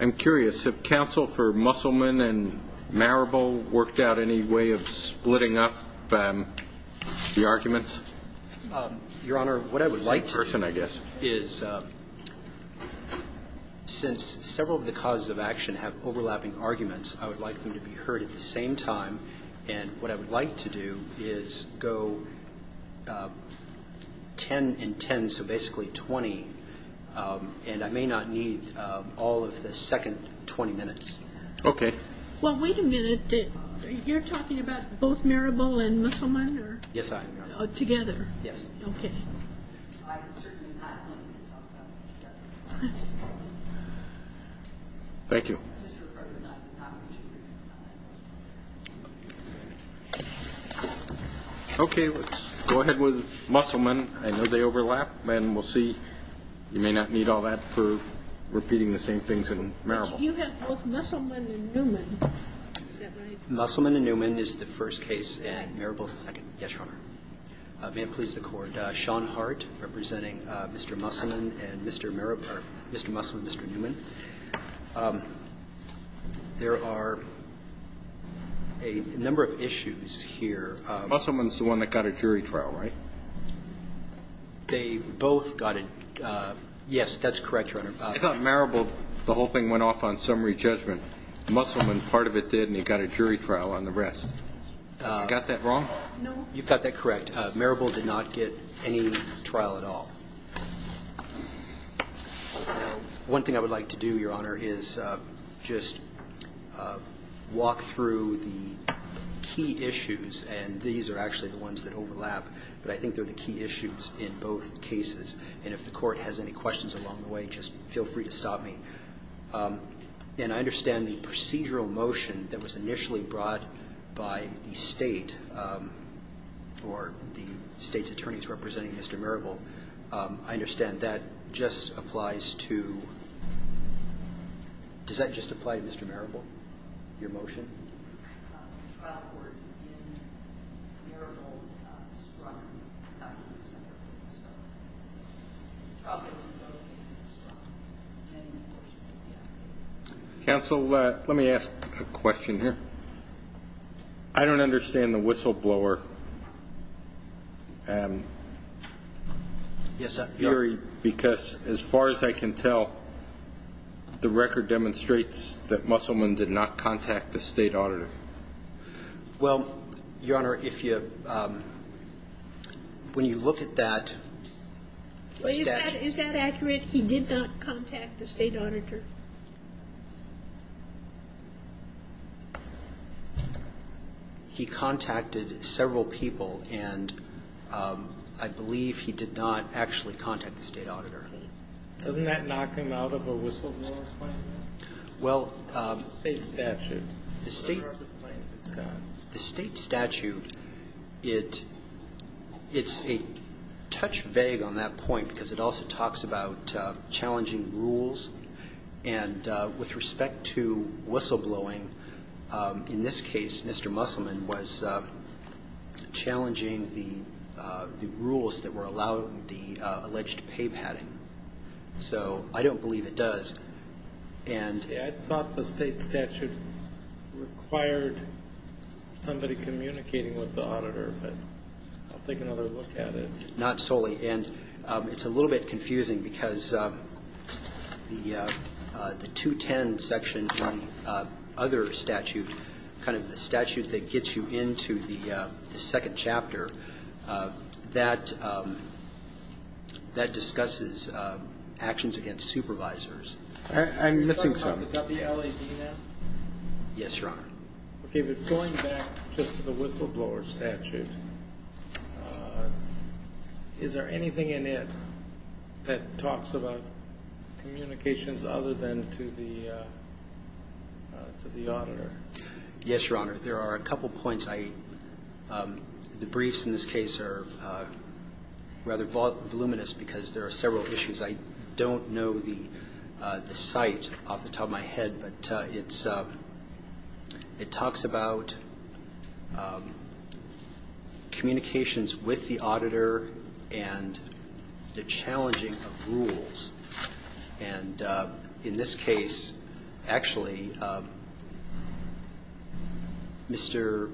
I'm curious, have counsel for Musselman and Marable worked out any way of splitting up the arguments? Your Honor, what I would like to do is, since several of the causes of action have overlapping arguments, I would like them to be heard at the same time. And what I would like to do is go 10 and 10, so basically 20, and I may not need all of the second 20 minutes. Okay. Well, wait a minute, you're talking about both Marable and Musselman? Yes, I am. Together? Yes. Okay. Thank you. Okay, let's go ahead with Musselman. I know they overlap, and we'll see. You may not need all that for repeating the same things in Marable. You have both Musselman and Newman. Is that right? Musselman and Newman is the first case, and Marable is the second. Yes, Your Honor. May it please the Court, Sean Hart representing Mr. Musselman and Mr. Marable or Mr. Musselman and Mr. Newman. There are a number of issues here. Musselman is the one that got a jury trial, right? They both got it. Yes, that's correct, Your Honor. I thought Marable, the whole thing went off on summary judgment. Musselman, part of it did, and it got a jury trial on the rest. Have I got that wrong? No, you've got that correct. Marable did not get any trial at all. One thing I would like to do, Your Honor, is just walk through the key issues, and these are actually the ones that overlap, but I think they're the key issues in both cases. And if the Court has any questions along the way, just feel free to stop me. And I understand the procedural motion that was initially brought by the State or the State's attorneys representing Mr. Marable. I understand that just applies to Mr. Marable. Your motion? Counsel, let me ask a question here. I don't understand the whistleblower theory because, as far as I can tell, the record demonstrates that Musselman did not contact the State. Well, Your Honor, if you – when you look at that statute – Is that accurate? He did not contact the State auditor? He contacted several people, and I believe he did not actually contact the State auditor. Doesn't that knock him out of a whistleblower claim? Well – The State statute. The State statute, it's a touch vague on that point because it also talks about challenging rules. And with respect to whistleblowing, in this case, Mr. Musselman was challenging the rules that were allowing the alleged pay padding. So I don't believe it does. I thought the State statute required somebody communicating with the auditor, but I'll take another look at it. Not solely. And it's a little bit confusing because the 210 section in the other statute, kind of the statute that gets you into the second chapter, that discusses actions against supervisors. I'm missing something. Is that about the WLAD then? Yes, Your Honor. Okay. But going back just to the whistleblower statute, is there anything in it that talks about communications other than to the auditor? Yes, Your Honor. There are a couple points. The briefs in this case are rather voluminous because there are several issues. I don't know the site off the top of my head, but it talks about communications with the auditor and the challenging of rules. And in this case, actually, Mr.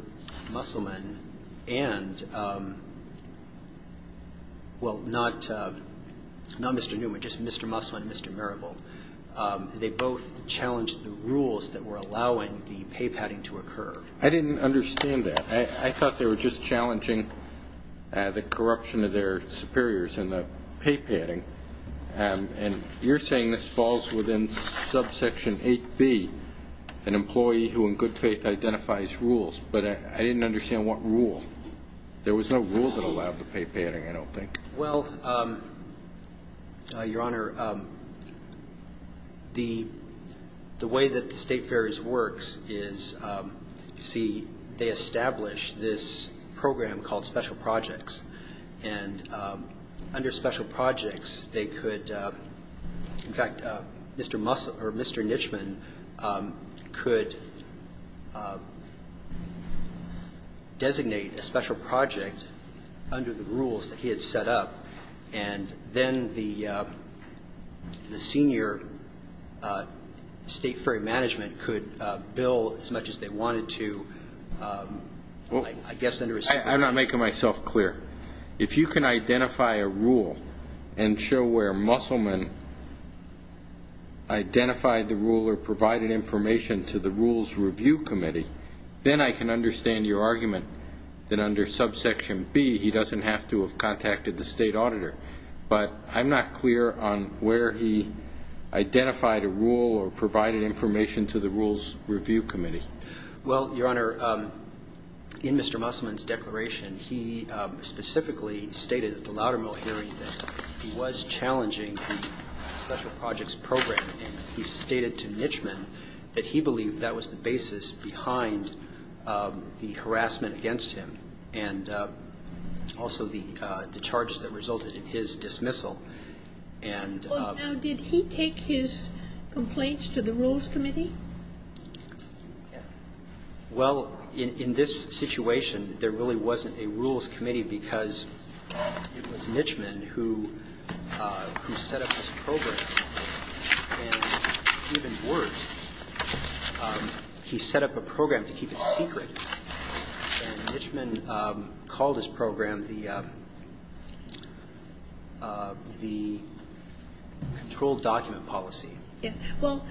Musselman and, well, not Mr. Newman, just Mr. Musselman and Mr. Mirabal, they both challenged the rules that were allowing the pay padding to occur. I didn't understand that. I thought they were just challenging the corruption of their superiors and the pay padding. And you're saying this falls within subsection 8B, an employee who in good faith identifies rules. But I didn't understand what rule. There was no rule that allowed the pay padding, I don't think. Well, Your Honor, the way that the state fairs works is, you see, they establish this program called special projects. And under special projects, they could, in fact, Mr. Musselman or Mr. Nishman could designate a special project under the rules that he had set up. And then the senior state ferry management could bill as much as they wanted to, I guess under a separate. I'm not making myself clear. If you can identify a rule and show where Musselman identified the rule or provided information to the Rules Review Committee, then I can understand your argument that under subsection B, he doesn't have to have contacted the state auditor. But I'm not clear on where he identified a rule or provided information to the Rules Review Committee. Well, Your Honor, in Mr. Musselman's declaration, he specifically stated at the Loudermill hearing that he was challenging the special projects program. And he stated to Nishman that he believed that was the basis behind the harassment against him and also the charges that resulted in his dismissal. Well, now, did he take his complaints to the Rules Committee? Well, in this situation, there really wasn't a Rules Committee because it was Nishman who set up this program. And even worse, he set up a program to keep it secret. And Nishman called his program the controlled document policy. Well,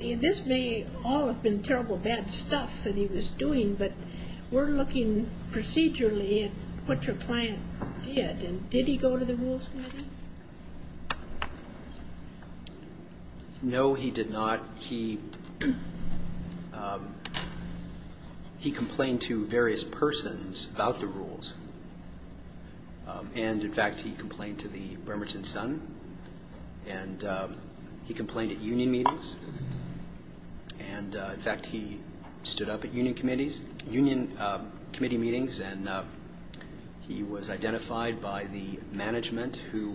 this may all have been terrible, bad stuff that he was doing, but we're looking procedurally at what your client did. And did he go to the Rules Committee? No, he did not. He complained to various persons about the rules. And, in fact, he complained to the Bremerton Sun. And he complained at union meetings. And, in fact, he stood up at union committee meetings and he was identified by the management who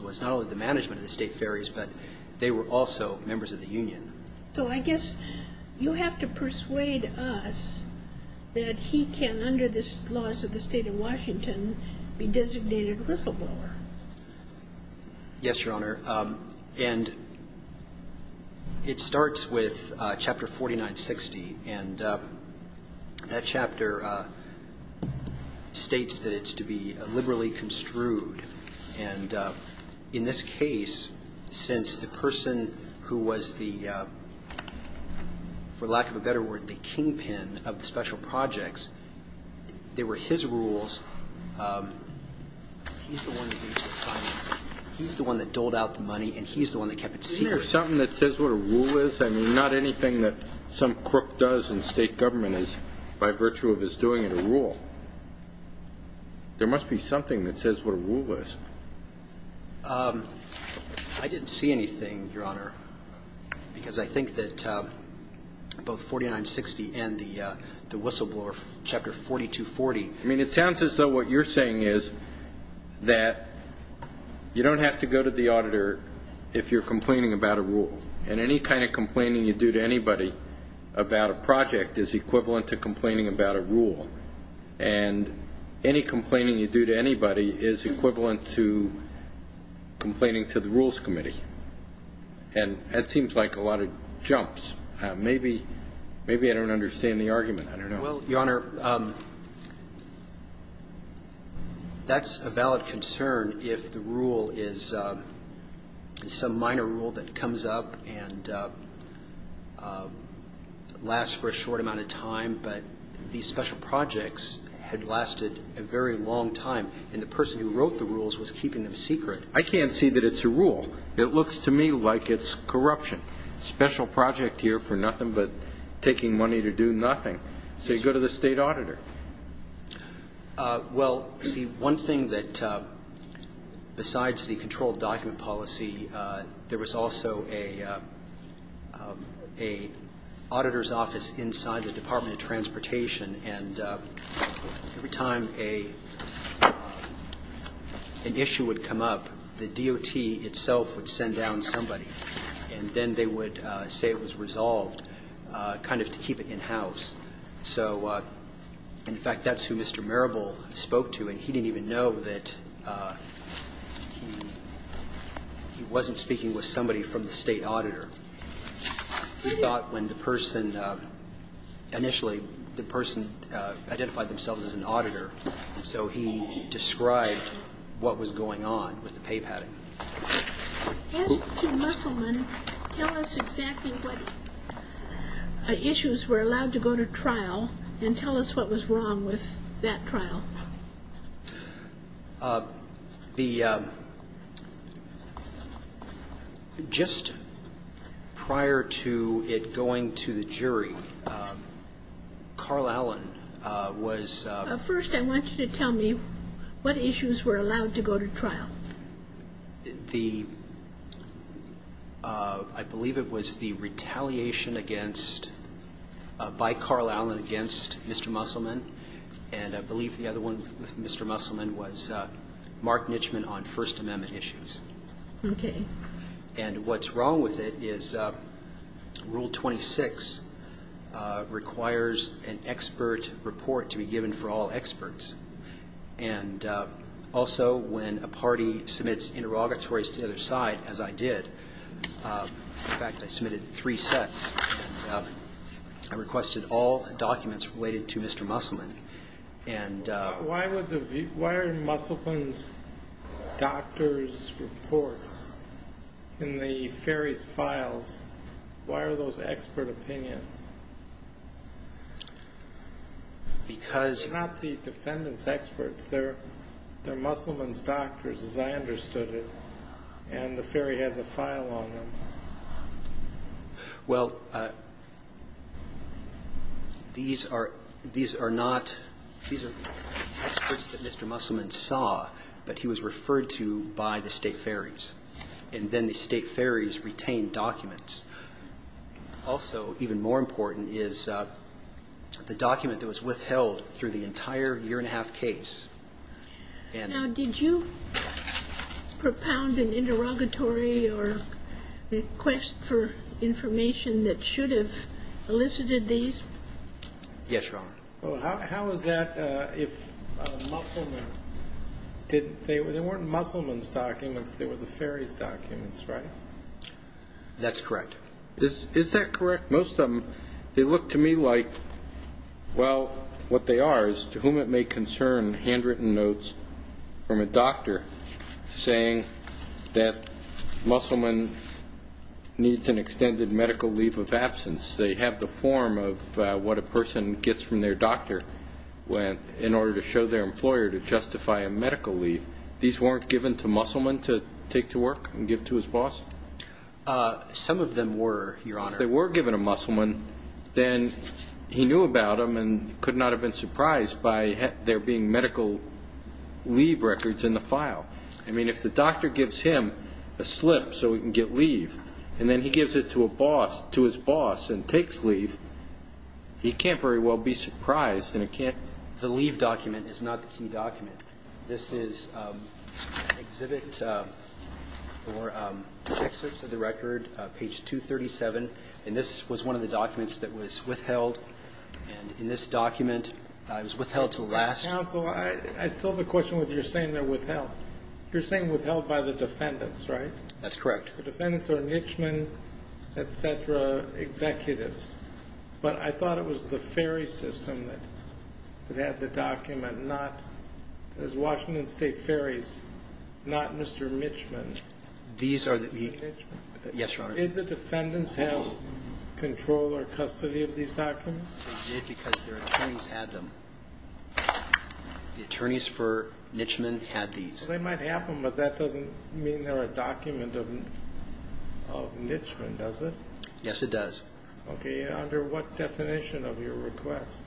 was not only the management of the state ferries, but they were also members of the union. So I guess you have to persuade us that he can, under the laws of the State of Washington, be designated a whistleblower. Yes, Your Honor. And it starts with Chapter 4960. And that chapter states that it's to be liberally construed. And in this case, since the person who was the, for lack of a better word, the kingpin of the special projects, they were his rules, he's the one that used the funds. He's the one that doled out the money and he's the one that kept it secret. Isn't there something that says what a rule is? I mean, not anything that some crook does in state government is by virtue of his doing it a rule. There must be something that says what a rule is. I didn't see anything, Your Honor, because I think that both 4960 and the whistleblower, Chapter 4240. I mean, it sounds as though what you're saying is that you don't have to go to the auditor if you're complaining about a rule. And any kind of complaining you do to anybody about a project is equivalent to complaining about a rule. And any complaining you do to anybody is equivalent to complaining to the Rules Committee. And that seems like a lot of jumps. Maybe I don't understand the argument. I don't know. Well, Your Honor, that's a valid concern if the rule is some minor rule that comes up and lasts for a short amount of time, but these special projects had lasted a very long time. And the person who wrote the rules was keeping them secret. I can't see that it's a rule. It looks to me like it's corruption. Special project here for nothing but taking money to do nothing. So you go to the state auditor. Well, see, one thing that, besides the controlled document policy, there was also an auditor's office inside the Department of Transportation. And every time an issue would come up, the DOT itself would send down somebody and then they would say it was resolved, kind of to keep it in-house. So, in fact, that's who Mr. Marable spoke to. And he didn't even know that he wasn't speaking with somebody from the state auditor. He thought when the person initially identified themselves as an auditor, so he described what was going on with the pay padding. As to Musselman, tell us exactly what issues were allowed to go to trial and tell us what was wrong with that trial. Just prior to it going to the jury, Carl Allen was ---- I believe it was the retaliation by Carl Allen against Mr. Musselman. And I believe the other one with Mr. Musselman was Mark Nitchman on First Amendment issues. Okay. And what's wrong with it is Rule 26 requires an expert report to be given for all experts. And also, when a party submits interrogatories to the other side, as I did, in fact, I submitted three sets, I requested all documents related to Mr. Musselman. Why are Musselman's doctor's reports in the ferry's files? Why are those expert opinions? Because ---- They're not the defendant's experts. They're Musselman's doctors, as I understood it. And the ferry has a file on them. Well, these are not experts that Mr. Musselman saw, but he was referred to by the state ferries. And then the state ferries retained documents. Also, even more important, is the document that was withheld through the entire year-and-a-half case. Now, did you propound an interrogatory or request for information that should have elicited these? Yes, Your Honor. Well, how is that if Musselman didn't? They weren't Musselman's documents. They were the ferry's documents, right? That's correct. Is that correct? Most of them, they look to me like, well, what they are is to whom it may concern handwritten notes from a doctor saying that Musselman needs an extended medical leave of absence. They have the form of what a person gets from their doctor in order to show their employer to justify a medical leave. These weren't given to Musselman to take to work and give to his boss? Some of them were, Your Honor. If they were given to Musselman, then he knew about them and could not have been surprised by there being medical leave records in the file. I mean, if the doctor gives him a slip so he can get leave, and then he gives it to his boss and takes leave, he can't very well be surprised. The leave document is not the key document. This is Exhibit 4, Excerpts of the Record, page 237. And this was one of the documents that was withheld. And in this document, it was withheld until last week. Counsel, I still have a question with your saying they're withheld. You're saying withheld by the defendants, right? That's correct. The defendants are henchmen, et cetera, executives. But I thought it was the ferry system that had the document, not as Washington State ferries, not Mr. Mitchman. These are theó Yes, Your Honor. Did the defendants have control or custody of these documents? They did because their attorneys had them. The attorneys for Mitchman had these. Well, they might have them, but that doesn't mean they're a document of Mitchman, does it? Yes, it does. Okay. Under what definition of your request?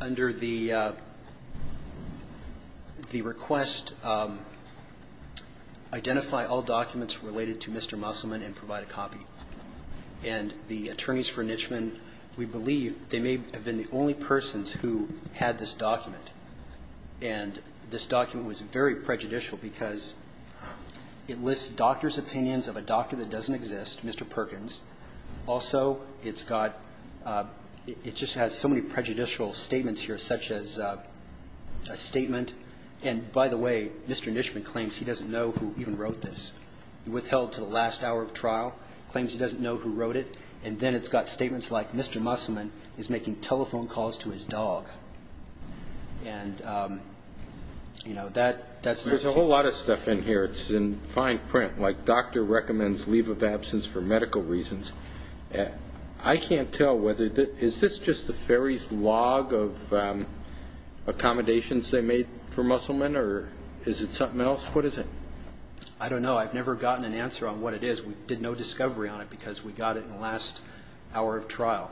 Under the request, identify all documents related to Mr. Musselman and provide a copy. And the attorneys for Mitchman, we believe they may have been the only persons who had this document. And this document was very prejudicial because it lists doctors' opinions of a doctor that doesn't exist, Mr. Perkins, also it's gotóit just has so many prejudicial statements here, such as a statementóand, by the way, Mr. Mitchman claims he doesn't know who even wrote this. He withheld to the last hour of trial, claims he doesn't know who wrote it, and then it's got statements like Mr. Musselman is making telephone calls to his dog. And, you know, that'só There's a whole lot of stuff in here. It's in fine print. Like, doctor recommends leave of absence for medical reasons. I can't tell whetheróis this just the ferry's log of accommodations they made for Musselman, or is it something else? What is it? I don't know. I've never gotten an answer on what it is. We did no discovery on it because we got it in the last hour of trial.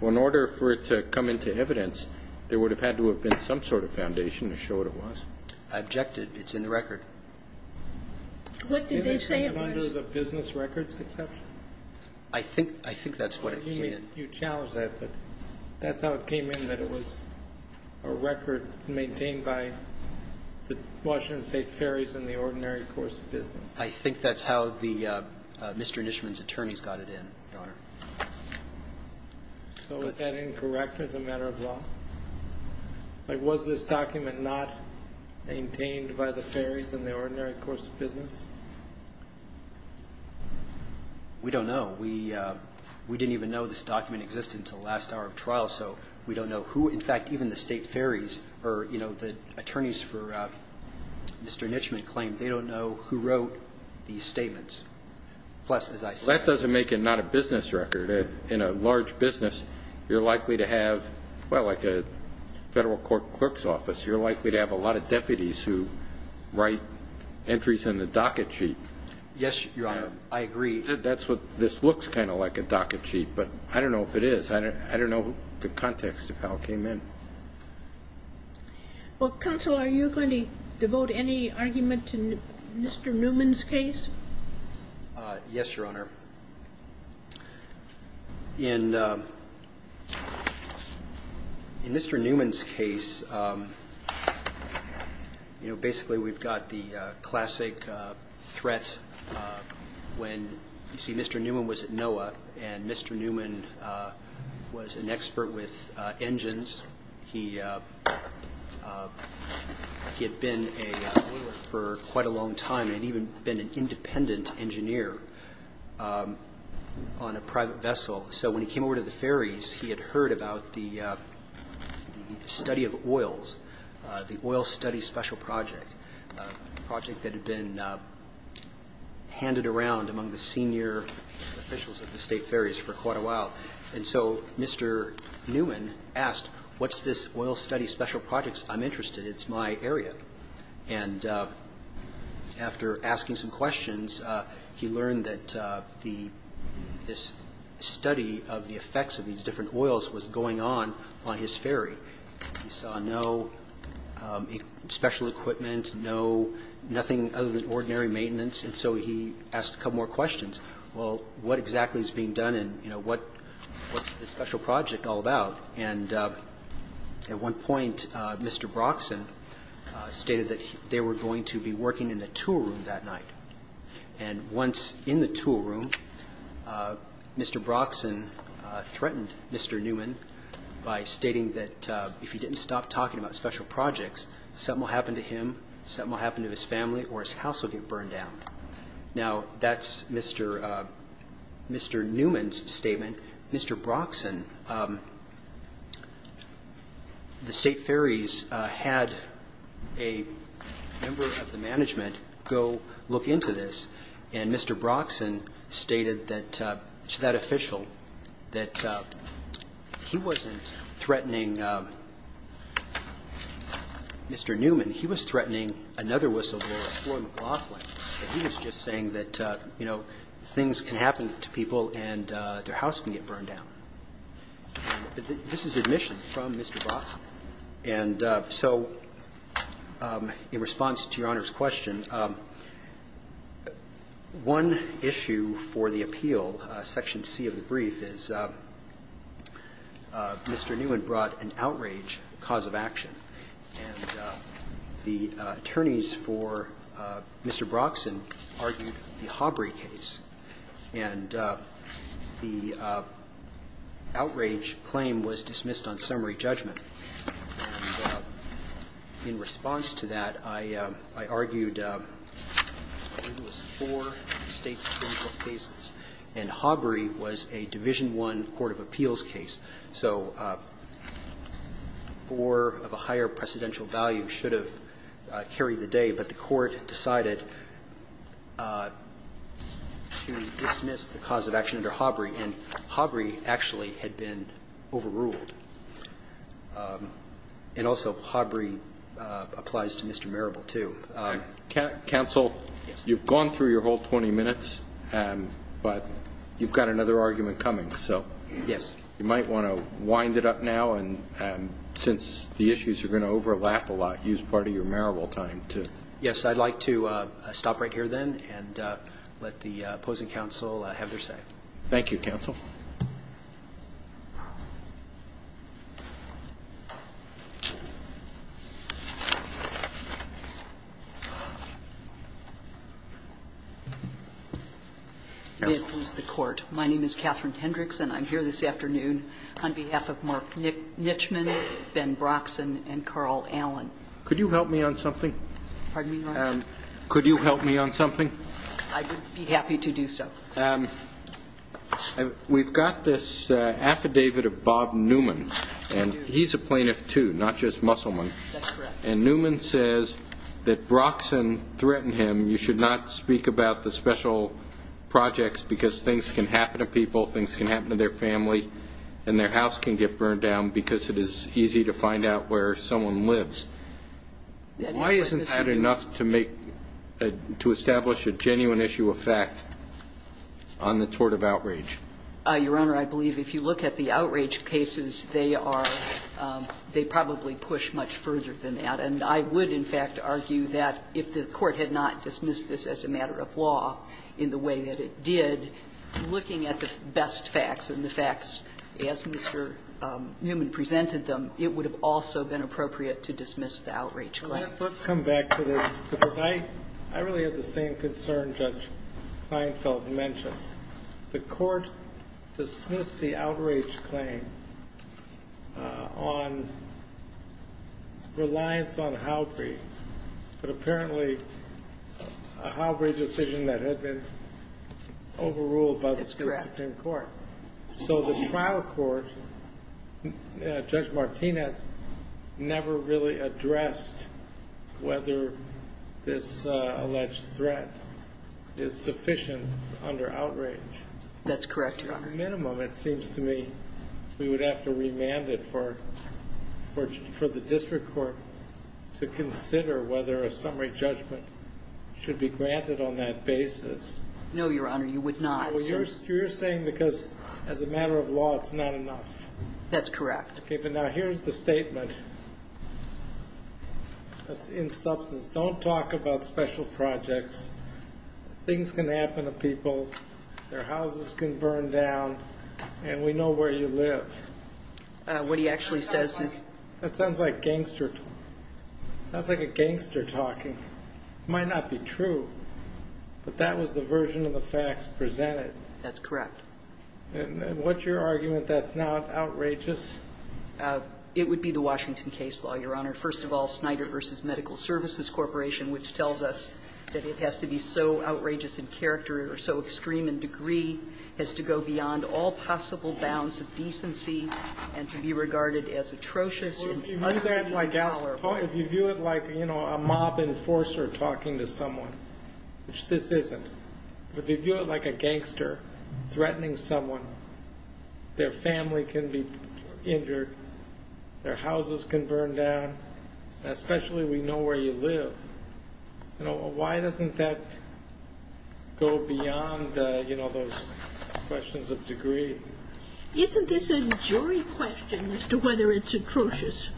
Well, in order for it to come into evidence, there would have had to have been some sort of foundation to show what it was. I objected. It's in the record. What did they say? Under the business records exception? I thinkóI think that's what it came in. You challenged that, but that's how it came in, that it was a record maintained by the Washington State Ferries and the Ordinary Course of Business. I think that's how theóMr. Mitchman's attorneys got it in, Your Honor. So is that incorrect as a matter of law? Was this document not maintained by the Ferries and the Ordinary Course of Business? We don't know. We didn't even know this document existed until the last hour of trial, so we don't know whoó in fact, even the State Ferries or the attorneys for Mr. Mitchman claim they don't know who wrote these statements. Plus, as I saidó Well, that doesn't make it not a business record. In a large business, you're likely to haveówell, like a federal court clerk's office, you're likely to have a lot of deputies who write entries in the docket sheet. Yes, Your Honor. I agree. That's whatóthis looks kind of like a docket sheet, but I don't know if it is. I don't know the context of how it came in. Well, counsel, are you going to devote any argument to Mr. Newman's case? Yes, Your Honor. In Mr. Newman's case, you know, basically we've got the classic threat whenóyou see, Mr. Newman was at NOAA, and Mr. Newman was an expert with engines. He had been an oiler for quite a long time and had even been an independent engineer on a private vessel. So when he came over to the ferries, he had heard about the study of oils, the Oil Study Special Project, a project that had been handed around among the senior officials of the State Ferries for quite a while. And so Mr. Newman asked, what's this Oil Study Special Project? I'm interested. It's my area. And after asking some questions, he learned that this study of the effects of these different oils was going on on his ferry. He saw no special equipment, noónothing other than ordinary maintenance. And so he asked a couple more questions. Well, what exactly is being done and, you know, what's this special project all about? And at one point, Mr. Broxson stated that they were going to be working in the tool room that night. And once in the tool room, Mr. Broxson threatened Mr. Newman by stating that if he didn't stop talking about special projects, something will happen to him, something will happen to his family, or his house will get burned down. Now, that's Mr. Newman's statement. Mr. Broxson, the State Ferries had a member of the management go look into this, and Mr. Broxson stated to that official that he wasn't threatening Mr. Newman. He was threatening another whistleblower, Floyd McLaughlin. He was just saying that, you know, things can happen to people and their house can get burned down. This is admission from Mr. Broxson. And so in response to Your Honor's question, one issue for the appeal, Section C of the brief, is Mr. Newman brought an outrage cause of action. And the attorneys for Mr. Broxson argued the Hobry case. And the outrage claim was dismissed on summary judgment. And in response to that, I argued it was four State's criminal cases, and Hobry was a Division I court of appeals case. So four of a higher precedential value should have carried the day, but the court decided to dismiss the cause of action under Hobry, and Hobry actually had been overruled. And also Hobry applies to Mr. Marable, too. Roberts. Counsel, you've gone through your whole 20 minutes, but you've got another argument coming. Yes. You might want to wind it up now, and since the issues are going to overlap a lot, use part of your Marable time to Yes, I'd like to stop right here then and let the opposing counsel have their say. Thank you, counsel. May it please the Court. My name is Catherine Hendricks, and I'm here this afternoon on behalf of Mark Nichman, Ben Broxson, and Carl Allen. Could you help me on something? Pardon me, Your Honor? Could you help me on something? I would be happy to do so. We've got this affidavit of Bob Newman, and he's a plaintiff, too, not just Musselman. That's correct. And Newman says that Broxson threatened him, you should not speak about the special projects because things can happen to people, things can happen to their family, and their house can get burned down because it is easy to find out where someone lives. Why isn't that enough to make, to establish a genuine issue of fact on the tort of outrage? Your Honor, I believe if you look at the outrage cases, they are, they probably push much further than that. And I would, in fact, argue that if the Court had not dismissed this as a matter of law in the way that it did, looking at the best facts and the facts as Mr. Newman presented them, it would have also been appropriate to dismiss the outrage claim. Let's come back to this, because I really have the same concern Judge Kleinfeld mentions. The Court dismissed the outrage claim on reliance on Halbree, but apparently a Halbree decision that had been overruled by the Supreme Court. That's correct. So the trial court, Judge Martinez, never really addressed whether this alleged threat is sufficient under outrage. That's correct, Your Honor. Minimum, it seems to me, we would have to remand it for the district court to consider whether a summary judgment should be granted on that basis. No, Your Honor, you would not. Well, you're saying because as a matter of law it's not enough. That's correct. Okay, but now here's the statement in substance. Don't talk about special projects. Things can happen to people. Their houses can burn down, and we know where you live. What he actually says is – That sounds like gangster – sounds like a gangster talking. It might not be true, but that was the version of the facts presented. That's correct. And what's your argument that's not outrageous? It would be the Washington case law, Your Honor. First of all, Snyder v. Medical Services Corporation, which tells us that it has to be so outrageous in character or so extreme in degree as to go beyond all possible bounds of decency and to be regarded as atrocious and unethical in power. If you view it like a mob enforcer talking to someone, which this isn't, but if you view it like a gangster threatening someone, their family can be injured, their houses can burn down, and especially we know where you live, why doesn't that go beyond those questions of degree? Isn't this a jury question as to whether it's atrocious?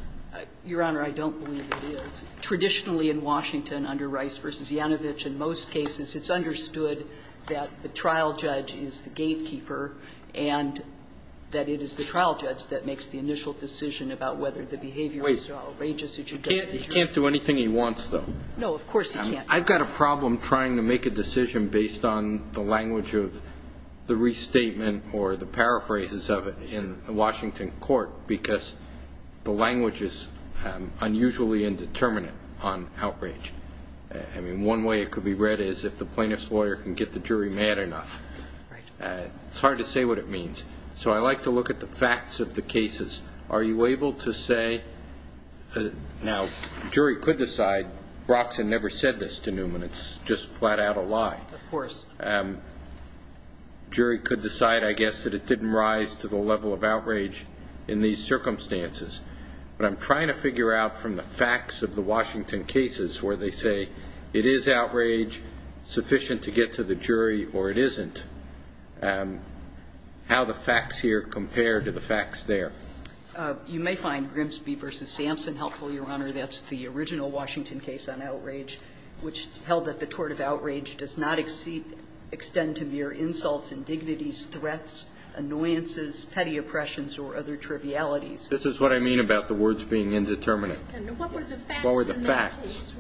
Your Honor, I don't believe it is. Traditionally in Washington under Rice v. Yanovich, in most cases, it's understood that the trial judge is the gatekeeper and that it is the trial judge that makes the initial decision about whether the behavior is outrageous. Wait. He can't do anything he wants, though. No, of course he can't. I've got a problem trying to make a decision based on the language of the restatement or the paraphrases of it in the Washington court, because the language is unusually indeterminate on outrage. I mean, one way it could be read is if the plaintiff's lawyer can get the jury mad enough. Right. It's hard to say what it means. So I like to look at the facts of the cases. Are you able to say, now the jury could decide, Broxson never said this to Newman, it's just flat out a lie. Of course. The jury could decide, I guess, that it didn't rise to the level of outrage in these circumstances. But I'm trying to figure out from the facts of the Washington cases where they say it is outrage sufficient to get to the jury or it isn't, how the facts here compare to the facts there. You may find Grimsby v. Sampson helpful, Your Honor. That's the original Washington case on outrage, which held that the tort of outrage does not extend to mere insults, indignities, threats, annoyances, petty oppressions, or other trivialities. This is what I mean about the words being indeterminate. What were the facts? What were the facts?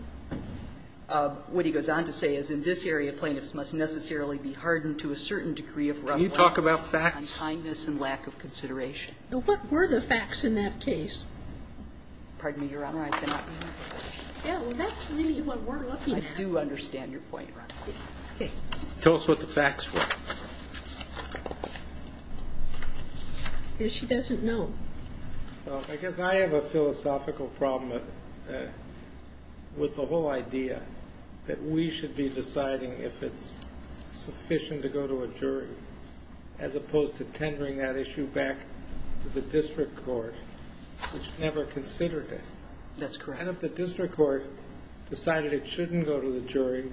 What he goes on to say is in this area, plaintiffs must necessarily be hardened to a certain degree of roughness. Can you talk about facts? On kindness and lack of consideration. What were the facts in that case? Pardon me, Your Honor. That's really what we're looking at. I do understand your point, Your Honor. Tell us what the facts were. She doesn't know. I guess I have a philosophical problem with the whole idea that we should be deciding if it's sufficient to go to a jury as opposed to tendering that issue back to the district court, which never considered it. That's correct. And if the district court decided it shouldn't go to the jury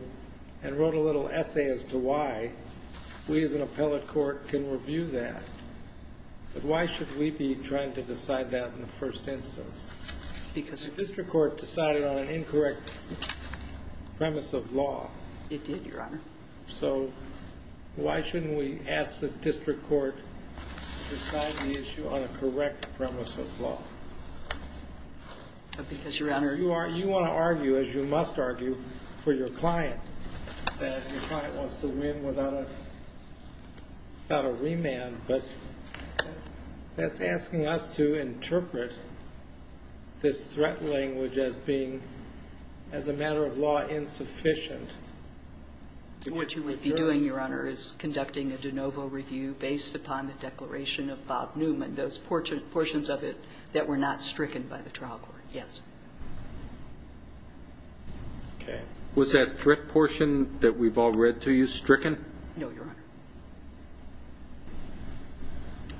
and wrote a little essay as to why, we as an appellate court can review that. But why should we be trying to decide that in the first instance? The district court decided on an incorrect premise of law. It did, Your Honor. So why shouldn't we ask the district court to decide the issue on a correct premise of law? Because, Your Honor. You want to argue, as you must argue for your client, that your client wants to win without a remand, but that's asking us to interpret this threat language as being, as a matter of law, insufficient. What you would be doing, Your Honor, is conducting a de novo review based upon the declaration of Bob Newman, those portions of it that were not stricken by the trial court, yes. Was that threat portion that we've all read to you stricken? No, Your Honor.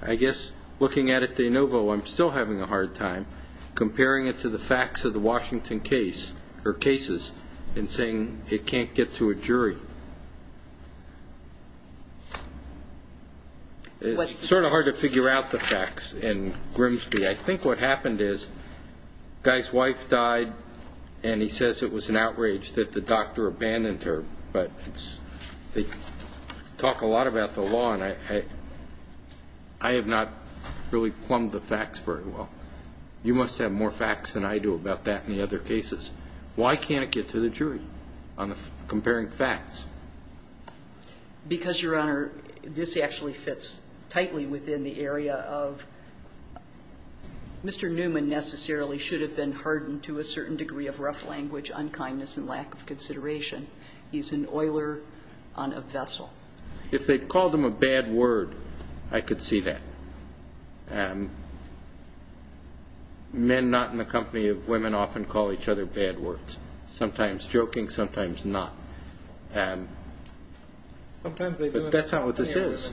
I guess looking at it de novo, I'm still having a hard time comparing it to the facts of the Washington case, or cases, and saying it can't get to a jury. It's sort of hard to figure out the facts in Grimsby. I think what happened is the guy's wife died, and he says it was an outrage that the doctor abandoned her, but they talk a lot about the law, and I have not really plumbed the facts very well. You must have more facts than I do about that in the other cases. Why can't it get to the jury on comparing facts? Because, Your Honor, this actually fits tightly within the area of Mr. Newman necessarily should have been hardened to a certain degree of rough language, unkindness, and lack of consideration. He's an oiler on a vessel. If they called him a bad word, I could see that. Men not in the company of women often call each other bad words, sometimes joking, sometimes not. But that's not what this is.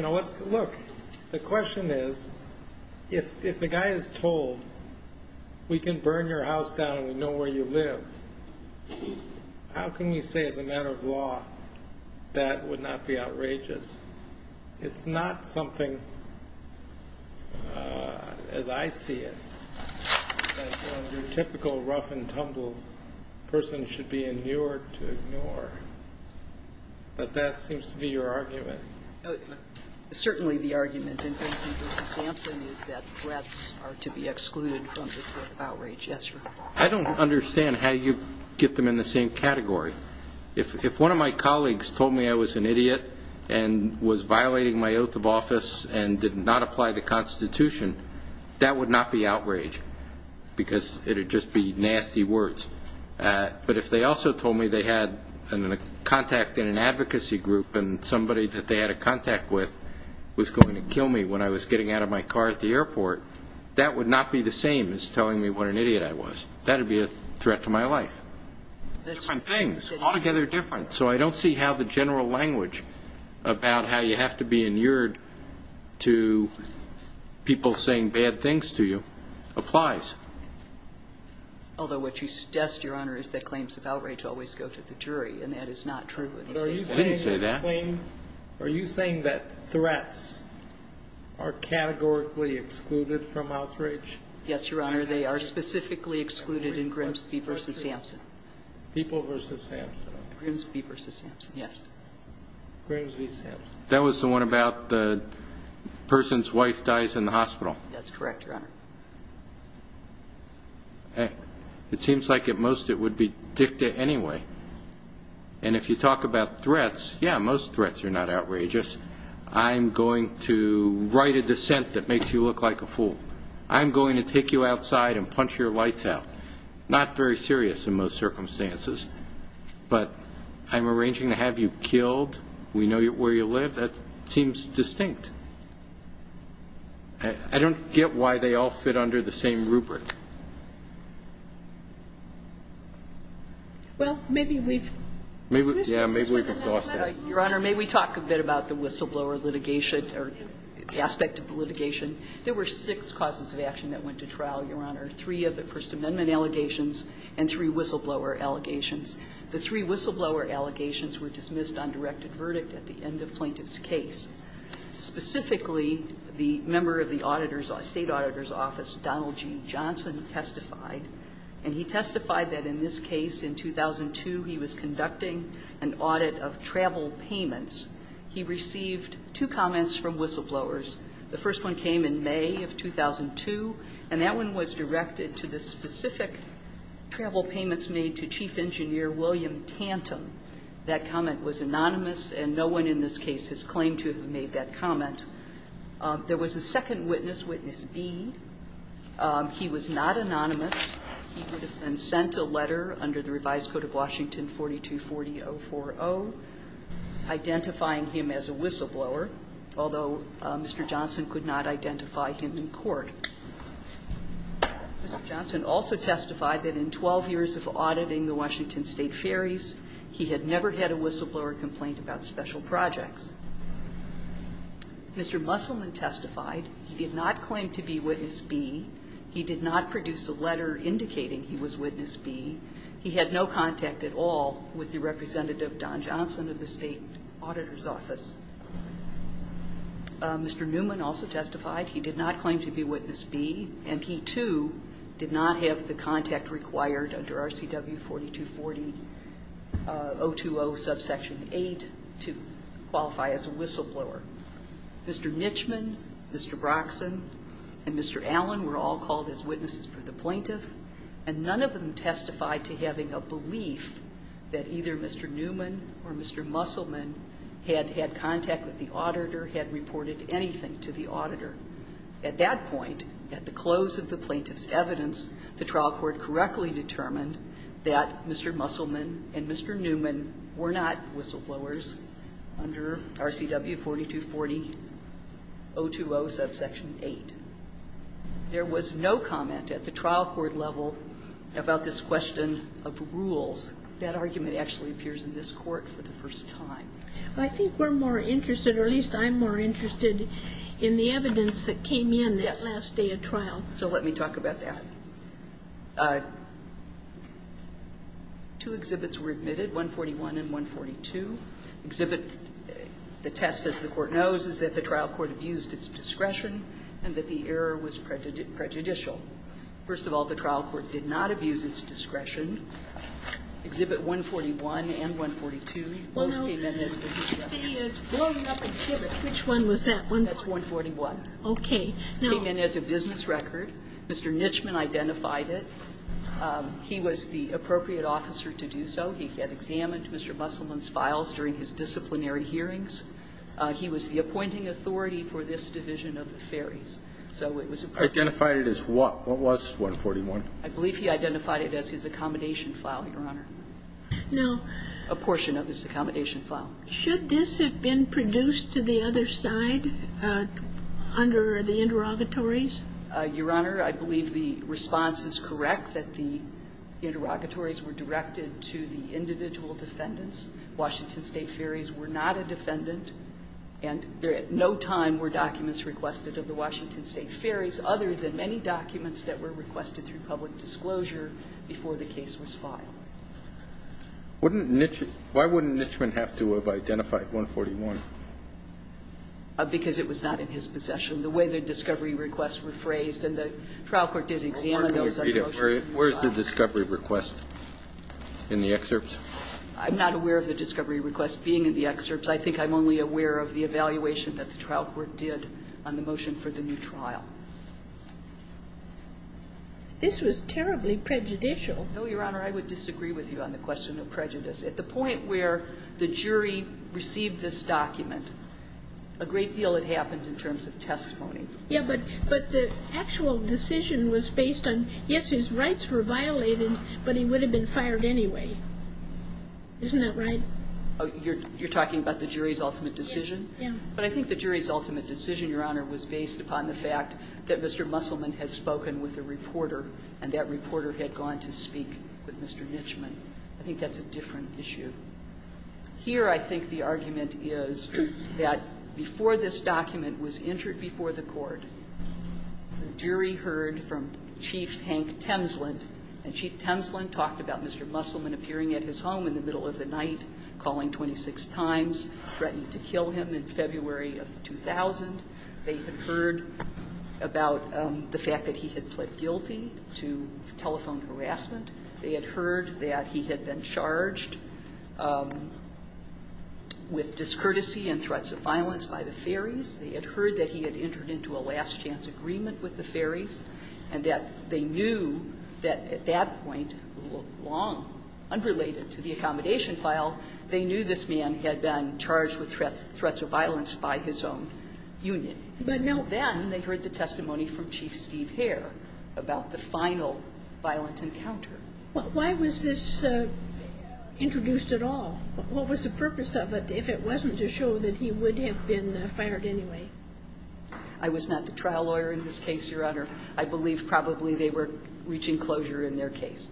Look, the question is, if the guy is told, we can burn your house down and we know where you live, how can we say as a matter of law that would not be outrageous? It's not something, as I see it, that your typical rough-and-tumble person should be inured to ignore. But that seems to be your argument. Certainly the argument in Benson v. Sampson is that threats are to be excluded from the threat of outrage. Yes, sir. I don't understand how you get them in the same category. If one of my colleagues told me I was an idiot and was violating my oath of office and did not apply the Constitution, that would not be outrage because it would just be nasty words. But if they also told me they had a contact in an advocacy group and somebody that they had a contact with was going to kill me when I was getting out of my car at the airport, that would not be the same as telling me what an idiot I was. That would be a threat to my life. Different things, altogether different. So I don't see how the general language about how you have to be inured to people saying bad things to you applies. Although what you suggest, Your Honor, is that claims of outrage always go to the jury, and that is not true. I didn't say that. Are you saying that threats are categorically excluded from outrage? Yes, Your Honor. They are specifically excluded in Grimsby v. Samson. People v. Samson. Grimsby v. Samson, yes. Grimsby v. Samson. That was the one about the person's wife dies in the hospital. That's correct, Your Honor. It seems like at most it would be dicta anyway. And if you talk about threats, yeah, most threats are not outrageous. I'm going to write a dissent that makes you look like a fool. I'm going to take you outside and punch your lights out. Not very serious in most circumstances, but I'm arranging to have you killed. We know where you live. That seems distinct. I don't get why they all fit under the same rubric. Well, maybe we've exhausted it. Your Honor, may we talk a bit about the whistleblower litigation or the aspect of the litigation? There were six causes of action that went to trial, Your Honor. Three of the First Amendment allegations and three whistleblower allegations. The three whistleblower allegations were dismissed on directed verdict at the end of plaintiff's case. Specifically, the member of the auditor's, State Auditor's Office, Donald G. Johnson, testified, and he testified that in this case, in 2002, he was conducting an audit of travel payments. He received two comments from whistleblowers. The first one came in May of 2002, and that one was directed to the specific travel payments made to Chief Engineer William Tantum. That comment was anonymous, and no one in this case has claimed to have made that comment. There was a second witness, Witness B. He was not anonymous. He would have been sent a letter under the revised Code of Washington 4240-040 identifying him as a whistleblower. Although Mr. Johnson could not identify him in court. Mr. Johnson also testified that in 12 years of auditing the Washington State Ferries, he had never had a whistleblower complaint about special projects. Mr. Musselman testified he did not claim to be Witness B. He did not produce a letter indicating he was Witness B. He had no contact at all with the representative, Don Johnson, of the State Auditor's Office. Mr. Newman also testified he did not claim to be Witness B. And he, too, did not have the contact required under RCW 4240-020 subsection 8 to qualify as a whistleblower. Mr. Nichman, Mr. Broxson, and Mr. Allen were all called as witnesses for the plaintiff, and none of them testified to having a belief that either Mr. Newman or Mr. Musselman had had contact with the auditor, had reported anything to the auditor. At that point, at the close of the plaintiff's evidence, the trial court correctly determined that Mr. Musselman and Mr. Newman were not whistleblowers under RCW 4240-020 subsection 8. There was no comment at the trial court level about this question of rules. That argument actually appears in this Court for the first time. I think we're more interested, or at least I'm more interested, in the evidence that came in that last day of trial. So let me talk about that. Two exhibits were admitted, 141 and 142. Exhibit the test, as the Court knows, is that the trial court abused its discretion and that the error was prejudicial. First of all, the trial court did not abuse its discretion. Exhibit 141 and 142 both came in as business records. Sotomayor, which one was that, 141? That's 141. Okay. It came in as a business record. Mr. Nitchman identified it. He was the appropriate officer to do so. He had examined Mr. Musselman's files during his disciplinary hearings. He was the appointing authority for this division of the ferries. So it was appropriate. Identified it as what? What was 141? I believe he identified it as his accommodation file, Your Honor. No. A portion of his accommodation file. Should this have been produced to the other side under the interrogatories? Your Honor, I believe the response is correct, that the interrogatories were directed to the individual defendants. Washington State ferries were not a defendant, and there at no time were documents requested of the Washington State ferries other than many documents that were requested through public disclosure before the case was filed. Wouldn't Nitchman why wouldn't Nitchman have to have identified 141? Because it was not in his possession. The way the discovery requests were phrased, and the trial court did examine those other documents. Where is the discovery request in the excerpts? I'm not aware of the discovery request being in the excerpts. I think I'm only aware of the evaluation that the trial court did on the motion for the new trial. This was terribly prejudicial. No, Your Honor. I would disagree with you on the question of prejudice. At the point where the jury received this document, a great deal had happened in terms of testimony. Yes, but the actual decision was based on, yes, his rights were violated, but he would have been fired anyway. Isn't that right? You're talking about the jury's ultimate decision? Yeah. But I think the jury's ultimate decision, Your Honor, was based upon the fact that Mr. Musselman had spoken with a reporter, and that reporter had gone to speak with Mr. Nitchman. I think that's a different issue. Here, I think the argument is that before this document was entered before the court, the jury heard from Chief Hank Temsland, and Chief Temsland talked about Mr. Musselman appearing at his home in the middle of the night, calling 26 times, threatened to kill him in February of 2000. They had heard about the fact that he had pled guilty to telephone harassment. They had heard that he had been charged with discourtesy and threats of violence by the ferries. They had heard that he had entered into a last-chance agreement with the ferries and that they knew that at that point, long unrelated to the accommodation file, they knew this man had been charged with threats of violence by his own union. Then they heard the testimony from Chief Steve Hare about the final violent encounter. Why was this introduced at all? What was the purpose of it if it wasn't to show that he would have been fired anyway? I was not the trial lawyer in this case, Your Honor. I believe probably they were reaching closure in their case.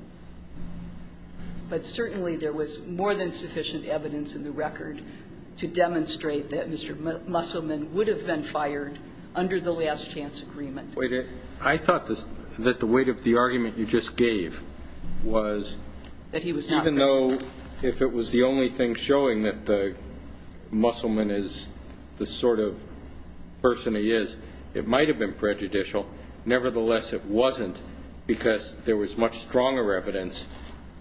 But certainly there was more than sufficient evidence in the record to demonstrate that Mr. Musselman would have been fired under the last-chance agreement. Wait a minute. I thought that the weight of the argument you just gave was even though if it was the only thing showing that the Musselman is the sort of person he is, it might have been prejudicial, nevertheless, it wasn't, because there was much stronger evidence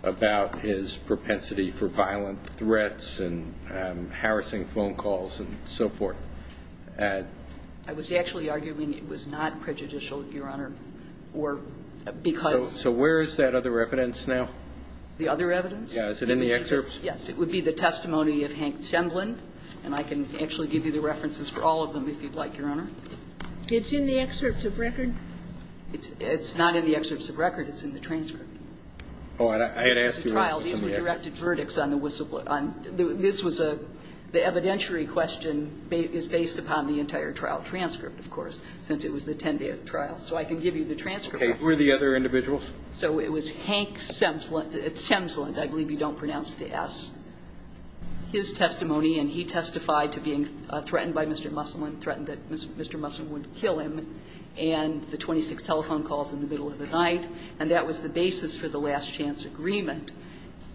about his propensity for violent threats and harassing phone calls and so forth. I was actually arguing it was not prejudicial, Your Honor, or because. So where is that other evidence now? The other evidence? Yeah. Is it in the excerpts? Yes. It would be the testimony of Hank Sembland. And I can actually give you the references for all of them if you'd like, Your Honor. It's in the excerpts of record? It's not in the excerpts of record. It's in the transcript. Oh. I had asked you. These were directed verdicts on the whistleblower. This was a the evidentiary question is based upon the entire trial transcript, of course, since it was the 10-day trial. So I can give you the transcript. Okay. Who are the other individuals? So it was Hank Sembland. I believe you don't pronounce the S. His testimony, and he testified to being threatened by Mr. Musselman, threatened that Mr. Musselman would kill him, and the 26 telephone calls in the middle of the night. And that was the basis for the last chance agreement.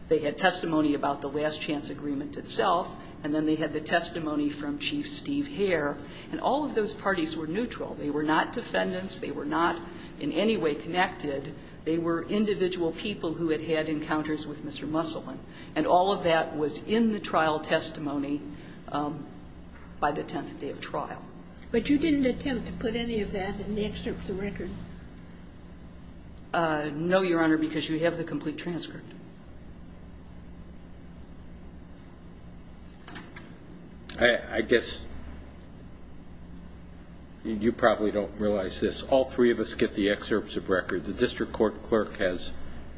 They had testimony about the last chance agreement itself, and then they had the testimony from Chief Steve Hare. And all of those parties were neutral. They were not defendants. They were not in any way connected. They were individual people who had had encounters with Mr. Musselman. And all of that was in the trial testimony by the 10th day of trial. But you didn't attempt to put any of that in the excerpts of record? No, Your Honor, because you have the complete transcript. I guess you probably don't realize this. All three of us get the excerpts of record. The district court clerk has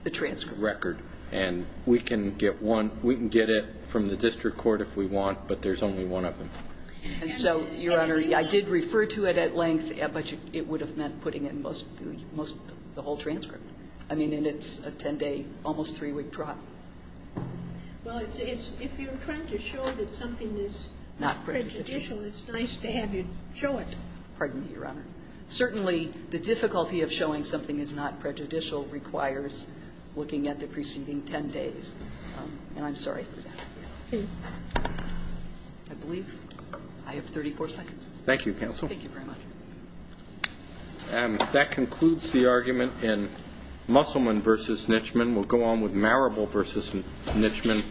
the transcript record. And we can get one. We can get it from the district court if we want, but there's only one of them. And so, Your Honor, I did refer to it at length, but it would have meant putting it in most of the whole transcript. I mean, and it's a 10-day, almost three-week trial. Well, if you're trying to show that something is not prejudicial, it's nice to have you show it. Pardon me, Your Honor. Certainly, the difficulty of showing something is not prejudicial requires looking at the preceding 10 days. And I'm sorry for that. I believe I have 34 seconds. Thank you, counsel. Thank you very much. That concludes the argument in Musselman v. Nitchman. We'll go on with Marable v. Nitchman.